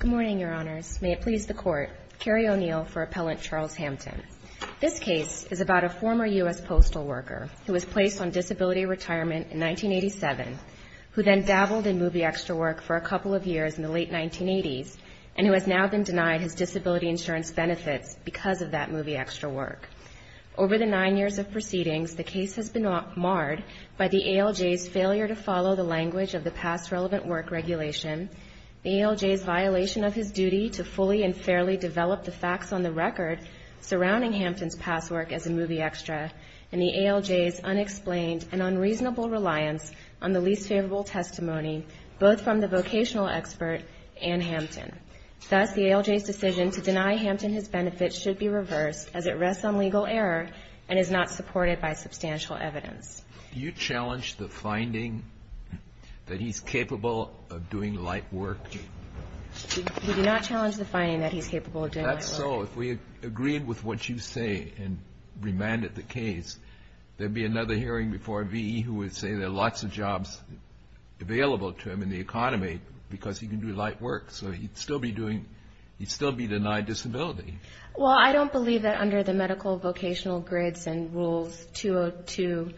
Good morning, Your Honors. May it please the Court, Kerry O'Neill for Appellant Charles Hampton. This case is about a former U.S. postal worker who was placed on disability retirement in 1987, who then dabbled in movie extra work for a couple of years in the late 1980s, and who has now been denied his disability insurance benefits because of that movie extra work. Over the nine years of proceedings, the case has been marred by the ALJ's failure to follow the language of the past relevant work regulation, the ALJ's violation of his duty to fully and fairly develop the facts on the record surrounding Hampton's past work as a movie extra, and the ALJ's unexplained and unreasonable reliance on the least favorable testimony, both from the vocational expert and Hampton. Thus, the ALJ's decision to deny Hampton his benefits should be reversed, as it rests on legal error and is not supported by substantial evidence. JUDGE LEBEN Do you challenge the finding that he's capable of doing light work? KERRY O'NEILL We do not challenge the finding that he's capable of doing light work. JUDGE LEBEN That's so. If we agreed with what you say and remanded the case, there'd be another hearing before V.E. who would say there are lots of jobs available to him in the economy because he can do light work, so he'd still be doing, he'd still be denied disability. KERRY O'NEILL Well, I don't believe that under the medical vocational grids and rules 202.04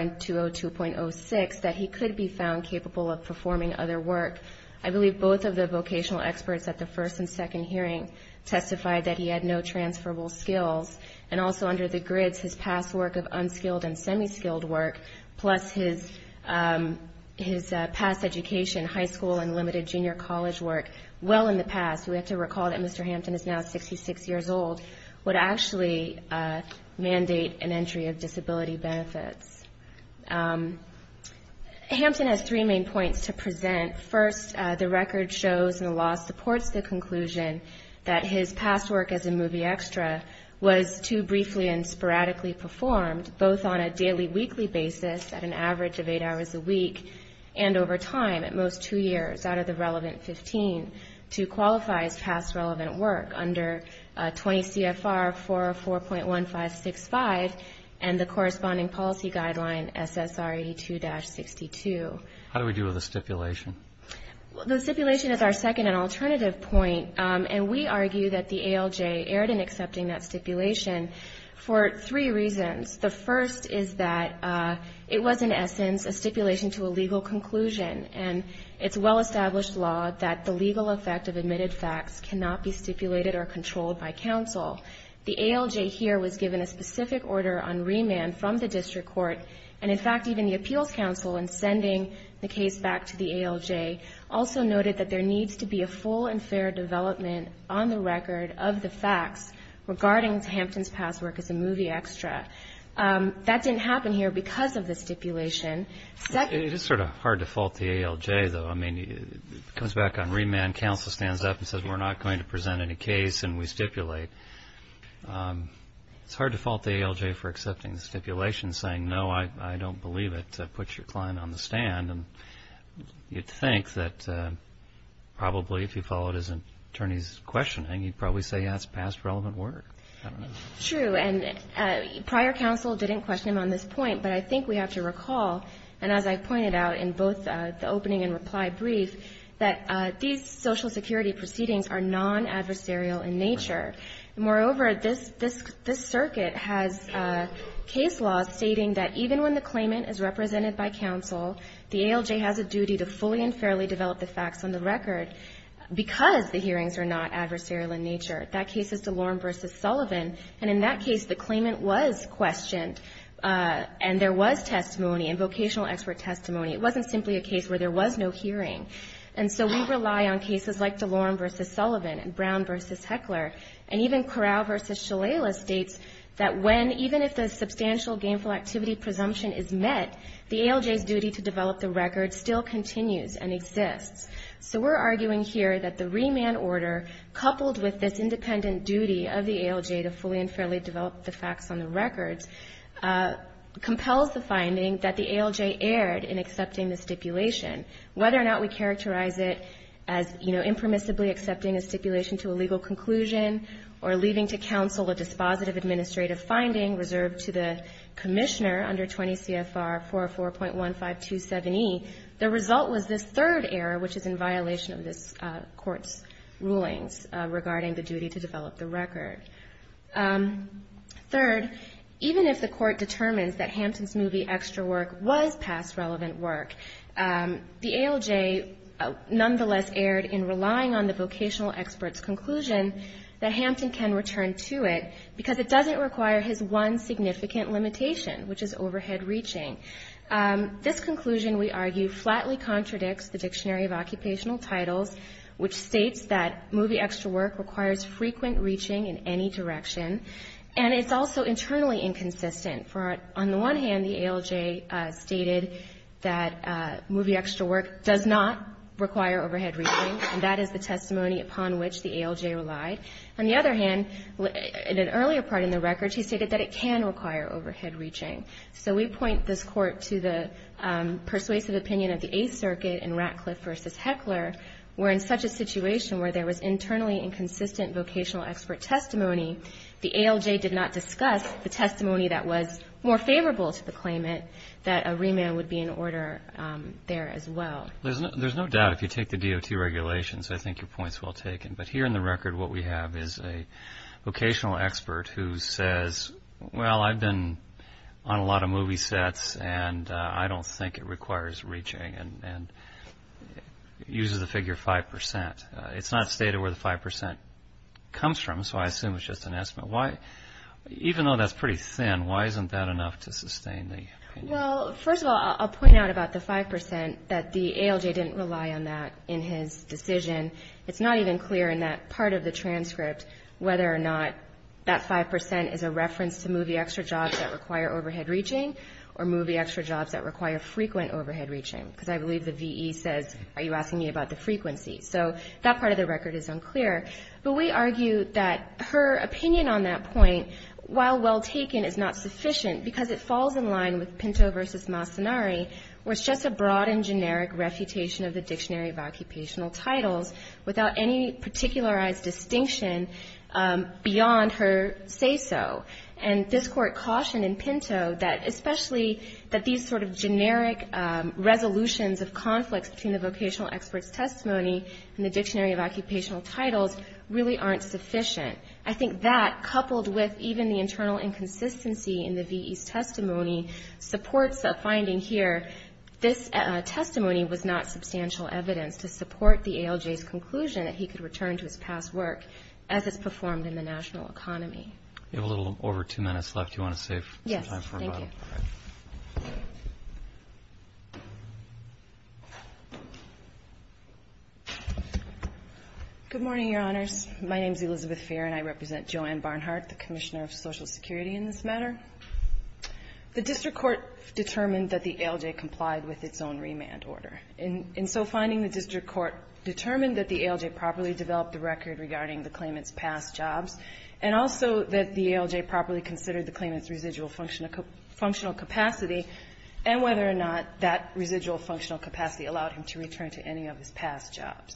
and 202.06 that he could be found capable of performing other work. I believe both of the vocational experts at the first and second hearing testified that he had no transferable skills. And also under the grids, his past work of unskilled and semi-skilled work, plus his past education, high school and limited junior college work, well in the past. We have to recall that Mr. Hampton, because he's six years old, would actually mandate an entry of disability benefits. Hampton has three main points to present. First, the record shows, and the law supports the conclusion, that his past work as a movie extra was too briefly and sporadically performed, both on a daily, weekly basis, at an average of eight hours a week, and over time, at most two years, out of the relevant 15, to qualify as past relevant work under 20 CFR 404.1565 and the corresponding policy guideline SSRE2-62. JUDGE LEBEN How do we deal with the stipulation? KERRY O'NEILL Well, the stipulation is our second and alternative point. And we argue that the ALJ erred in accepting that stipulation for three reasons. The first is that it was, in essence, a stipulation to a legal conclusion. And it's a well-established law that the legal effect of admitted facts cannot be stipulated or controlled by counsel. The ALJ here was given a specific order on remand from the district court. And, in fact, even the appeals counsel, in sending the case back to the ALJ, also noted that there needs to be a full and fair development on the record of the facts regarding Hampton's past work as a movie extra. That didn't happen here because of the stipulation. JUDGE LEBEN It is sort of hard to fault the ALJ, though. I mean, it comes back on remand, counsel stands up and says, we're not going to present any case, and we stipulate. It's hard to fault the ALJ for accepting the stipulation, saying, no, I don't believe it. Put your client on the stand. And you'd think that probably if you followed his attorney's questioning, he'd KERRY O'NEILL True. And prior counsel didn't question him on this point. But I think we have to recall, and as I pointed out in both the opening and reply brief, that these Social Security proceedings are non-adversarial in nature. Moreover, this circuit has case laws stating that even when the claimant is represented by counsel, the ALJ has a duty to fully and fairly develop the facts on the record because the hearings are not adversarial in nature. That case is the claimant was questioned, and there was testimony, and vocational expert testimony. It wasn't simply a case where there was no hearing. And so we rely on cases like DeLoren v. Sullivan and Brown v. Heckler, and even Corral v. Shalala states that when, even if the substantial gainful activity presumption is met, the ALJ's duty to develop the record still continues and exists. So we're arguing here that the remand order, coupled with this duty to fully develop the facts on the records, compels the finding that the ALJ erred in accepting the stipulation. Whether or not we characterize it as, you know, impermissibly accepting a stipulation to a legal conclusion or leaving to counsel a dispositive administrative finding reserved to the commissioner under 20 CFR 404.1527E, the result was this third error, which is in violation of this Court's rulings regarding the duty to develop the record. Third, even if the Court determines that Hampton's movie extra work was past relevant work, the ALJ nonetheless erred in relying on the vocational expert's conclusion that Hampton can return to it because it doesn't require his one significant limitation, which is overhead reaching. This conclusion, we argue, flatly contradicts the Dictionary of Occupational And it's also internally inconsistent. On the one hand, the ALJ stated that movie extra work does not require overhead reaching, and that is the testimony upon which the ALJ relied. On the other hand, in an earlier part in the records, he stated that it can require overhead reaching. So we point this Court to the persuasive opinion of the Eighth Circuit in Ratcliffe v. Heckler, where in such a situation where there was internally inconsistent vocational expert testimony, the ALJ did not discuss the testimony that was more favorable to the claimant, that a remand would be in order there as well. There's no doubt if you take the DOT regulations, I think your point's well taken. But here in the record, what we have is a vocational expert who says, well, I've been on a lot of movie sets, and I don't think it requires reaching, and uses the figure 5%. It's not stated where the 5% comes from, so I assume it's just an estimate. Even though that's pretty thin, why isn't that enough to sustain the opinion? Well, first of all, I'll point out about the 5% that the ALJ didn't rely on that in his decision. It's not even clear in that part of the transcript whether or not that 5% is a reference to movie extra jobs that require overhead reaching, or movie extra jobs that require frequent overhead reaching. Because I believe the VE says, are you asking me about the frequency? So that part of the record is unclear. But we argue that her opinion on that point, while well taken, is not sufficient, because it falls in line with Pinto v. Mastanari, where it's just a broad and generic refutation of the Dictionary of Occupational Titles, without any particularized distinction beyond her say-so. And this Court cautioned in Pinto that, especially that these sort of generic resolutions of conflicts between the vocational expert's testimony and the Dictionary of Occupational Titles really aren't sufficient. I think that, coupled with even the internal inconsistency in the VE's testimony, supports a finding here, this testimony was not substantial evidence to support the ALJ's conclusion that he could return to his past work as it's performed in the national economy. We have a little over two minutes left. Do you want to save some time for a bottle? Good morning, Your Honors. My name is Elizabeth Fair, and I represent Joanne Barnhart, the Commissioner of Social Security, in this matter. The district court determined that the ALJ complied with its own remand order. In so finding, the district court determined that the ALJ properly developed the record regarding the claimant's past jobs, and also that the ALJ properly considered the claimant's residual functional capacity, and whether or not that residual functional capacity allowed him to return to any of his past jobs.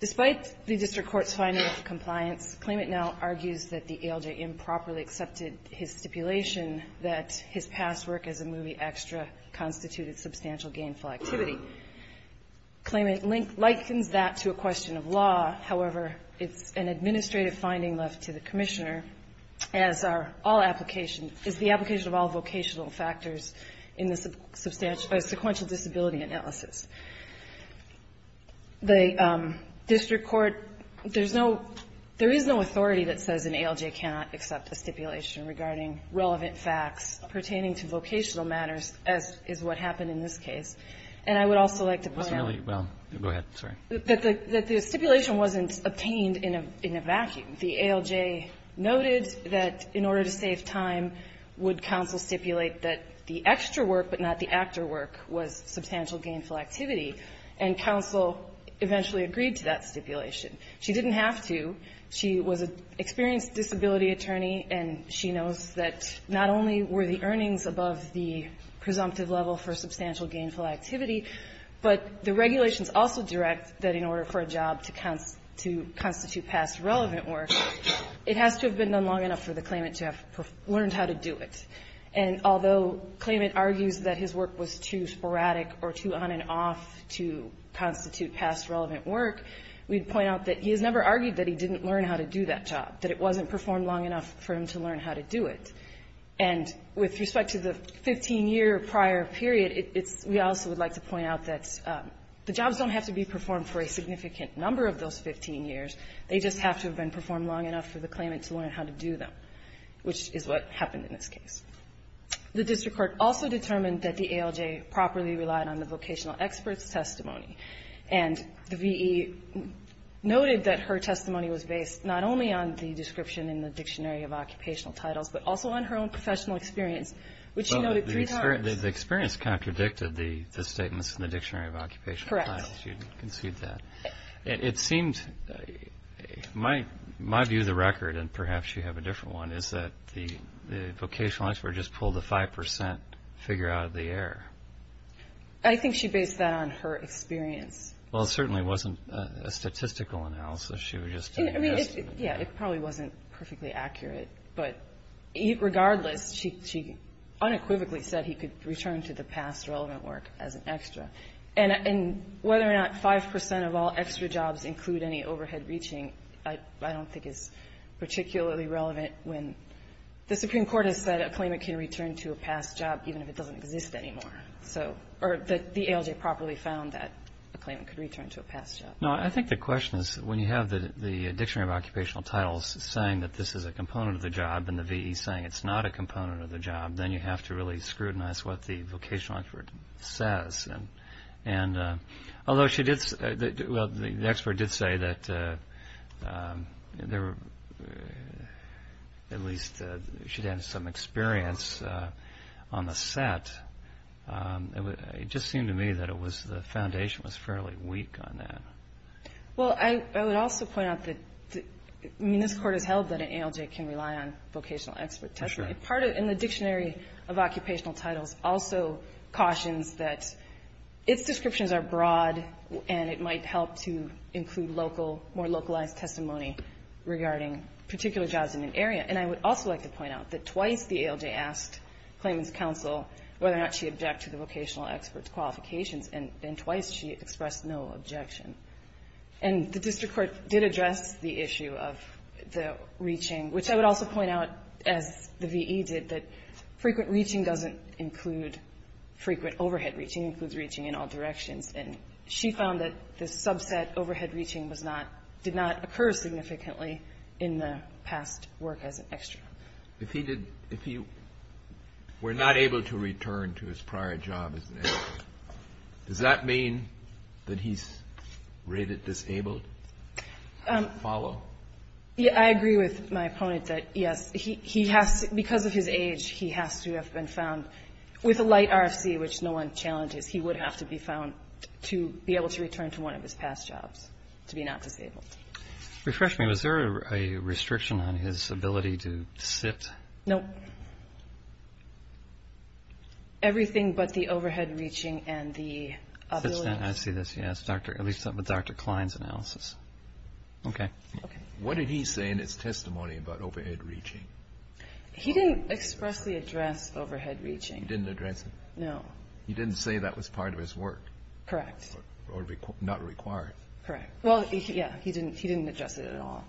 Despite the district court's finding of compliance, claimant now argues that the ALJ improperly accepted his stipulation that his past work as a movie extra constituted substantial gainful activity. Claimant likens that to a question of law. However, it's an administrative finding left to the Commissioner as are all application, is the application of all vocational factors in the substantial or sequential disability analysis. The district court, there's no, there is no authority that says an ALJ cannot accept a stipulation regarding relevant facts pertaining to vocational matters, as is what happened in this case. And I would also like to point out that the stipulation wasn't obtained in a vacuum. The ALJ noted that in order to save time, would counsel stipulate that the extra work but not the actor work was substantial gainful activity, and counsel eventually agreed to that stipulation. She didn't have to. She was an experienced disability attorney, and she knows that not only were the earnings above the presumptive level for substantial gainful activity, but the regulations also direct that in order for a job to constitute past relevant work, it has to have been done long enough for the claimant to have learned how to do it. And although claimant argues that his work was too sporadic or too on and off to constitute past relevant work, we'd point out that he has never argued that he didn't learn how to do that job, that it wasn't performed long enough for him to learn how to do it. And with respect to the 15-year prior period, it's we also would like to point out that the jobs don't have to be performed for a significant number of those 15 years. They just have to have been performed long enough for the claimant to learn how to do them, which is what happened in this case. The district court also determined that the ALJ properly relied on the vocational expert's testimony, and the V.E. noted that her testimony was based not only on the Dictionary of Occupational Titles, but also on her own professional experience, which she noted three times. Well, the experience contradicted the statements in the Dictionary of Occupational Titles. Correct. You conceded that. It seemed, my view of the record, and perhaps you have a different one, is that the vocational expert just pulled a 5% figure out of the air. I think she based that on her experience. Well, it certainly wasn't a statistical analysis. I mean, yeah, it probably wasn't perfectly accurate, but regardless, she unequivocally said he could return to the past relevant work as an extra. And whether or not 5% of all extra jobs include any overhead reaching, I don't think is particularly relevant when the Supreme Court has said a claimant can return to a past job even if it doesn't exist anymore. Or that the ALJ properly found that a claimant could return to a past job. No, I think the question is when you have the Dictionary of Occupational Titles saying that this is a component of the job and the VE saying it's not a component of the job, then you have to really scrutinize what the vocational expert says. And although the expert did say that at least she'd had some experience on the set, it just seemed to me that it was the foundation was fairly weak on that. Well, I would also point out that, I mean, this Court has held that an ALJ can rely on vocational expert testimony. For sure. Part of it in the Dictionary of Occupational Titles also cautions that its descriptions are broad and it might help to include local, more localized testimony regarding particular jobs in an area. And I would also like to point out that twice the ALJ asked Claimant's Counsel whether or not she objected to the vocational expert's qualifications, and twice she expressed no objection. And the District Court did address the issue of the reaching, which I would also point out, as the VE did, that frequent reaching doesn't include frequent overhead reaching. It includes reaching in all directions. And she found that the subset overhead reaching did not occur significantly in the past work as an extra. If he were not able to return to his prior job as an ALJ, does that mean that he's rated disabled to follow? I agree with my opponent that, yes, because of his age, he has to have been found with a light RFC, which no one challenges, he would have to be found to be able to return to one of his past jobs to be not disabled. Refresh me. Was there a restriction on his ability to sit? No. Everything but the overhead reaching and the ability to sit. I see this, yes, at least with Dr. Klein's analysis. Okay. What did he say in his testimony about overhead reaching? He didn't expressly address overhead reaching. He didn't address it? No. He didn't say that was part of his work? Correct. Or not required? Correct. Well, yes, he didn't address it at all.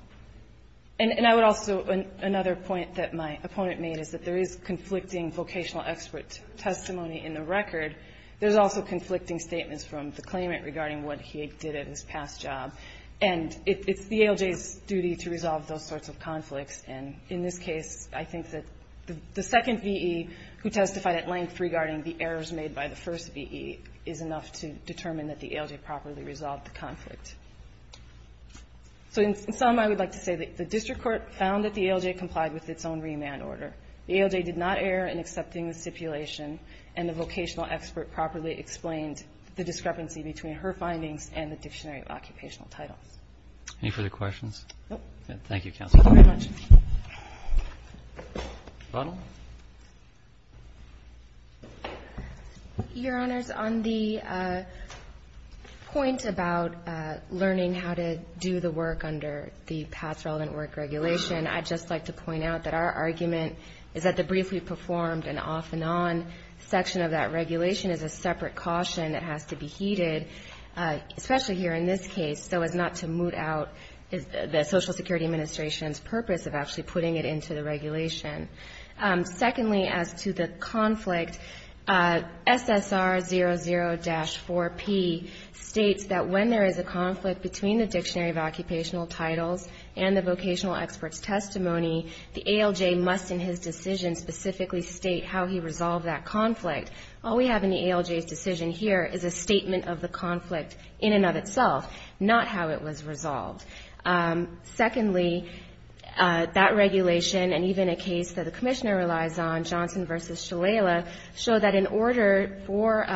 And I would also, another point that my opponent made is that there is conflicting vocational expert testimony in the record. There's also conflicting statements from the claimant regarding what he did at his past job. And it's the ALJ's duty to resolve those sorts of conflicts. And in this case, I think that the second V.E. who testified at length regarding the errors made by the first V.E. is enough to determine that the ALJ properly resolved the conflict. So in sum, I would like to say that the district court found that the ALJ complied with its own remand order. The ALJ did not err in accepting the stipulation. And the vocational expert properly explained the discrepancy between her findings and the dictionary of occupational titles. Any further questions? No. Thank you, Counsel. Thank you very much. Ronald. Your Honors, on the point about learning how to do the work under the past relevant work regulation, I'd just like to point out that our argument is that the briefly performed and off and on section of that regulation is a separate caution. It has to be heeded, especially here in this case, so as not to moot out the Social Security Administration's purpose of actually putting it into the regulation. Secondly, as to the conflict, SSR 00-4P states that when there is a conflict between the dictionary of occupational titles and the vocational expert's testimony, the ALJ must in his decision specifically state how he resolved that conflict. All we have in the ALJ's decision here is a statement of the conflict in and of itself, not how it was resolved. Secondly, that regulation and even a case that the Commissioner relies on, Johnson v. Shalala, show that in order for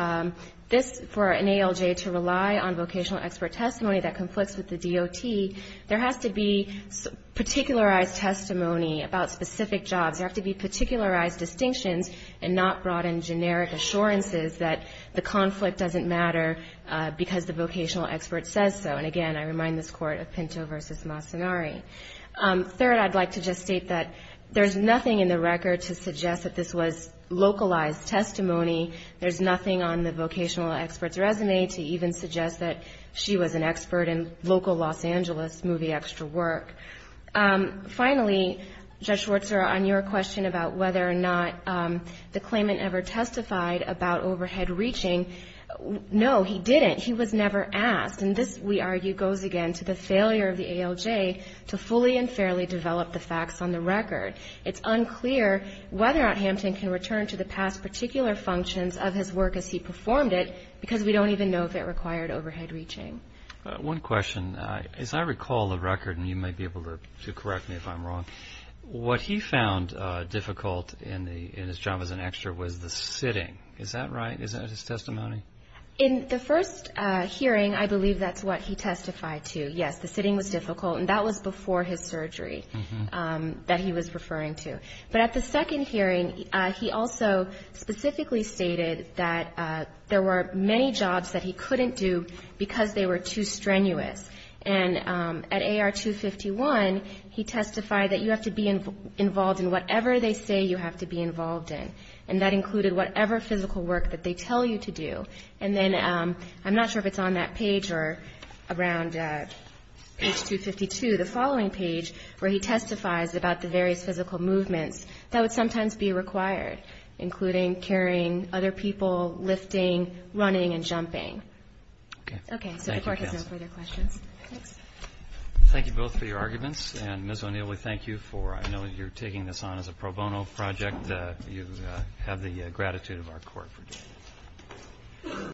this, for an ALJ to rely on vocational expert testimony that conflicts with the DOT, there has to be particularized testimony about specific jobs. There have to be particularized distinctions and not brought in generic assurances that the conflict doesn't matter because the vocational expert says so. And again, I remind this Court of Pinto v. Masanari. Third, I'd like to just state that there's nothing in the record to suggest that this was localized testimony. There's nothing on the vocational expert's resume to even suggest that she was an expert in local Los Angeles movie extra work. Finally, Judge Schwartzer, on your question about whether or not the claimant ever testified about overhead reaching, no, he didn't. He was never asked. And this, we argue, goes again to the failure of the ALJ to fully and fairly develop the facts on the record. It's unclear whether or not Hampton can return to the past particular functions of his work as he performed it because we don't even know if it required overhead reaching. One question. As I recall the record, and you may be able to correct me if I'm wrong, what he found difficult in his job as an extra was the sitting. Is that right? Is that his testimony? In the first hearing, I believe that's what he testified to. Yes, the sitting was difficult. And that was before his surgery that he was referring to. But at the second hearing, he also specifically stated that there were many jobs that he couldn't do because they were too strenuous. And at AR 251, he testified that you have to be involved in whatever they say you have to be involved in. And that included whatever physical work that they tell you to do. And then I'm not sure if it's on that page or around page 252, the following page, where he testifies about the various physical movements that would sometimes be required, including carrying other people, lifting, running and jumping. Okay. So the Court has no further questions. Thanks. Thank you both for your arguments. And, Ms. O'Neill, we thank you for, I know you're taking this on as a pro bono project. You have the gratitude of our Court for doing this.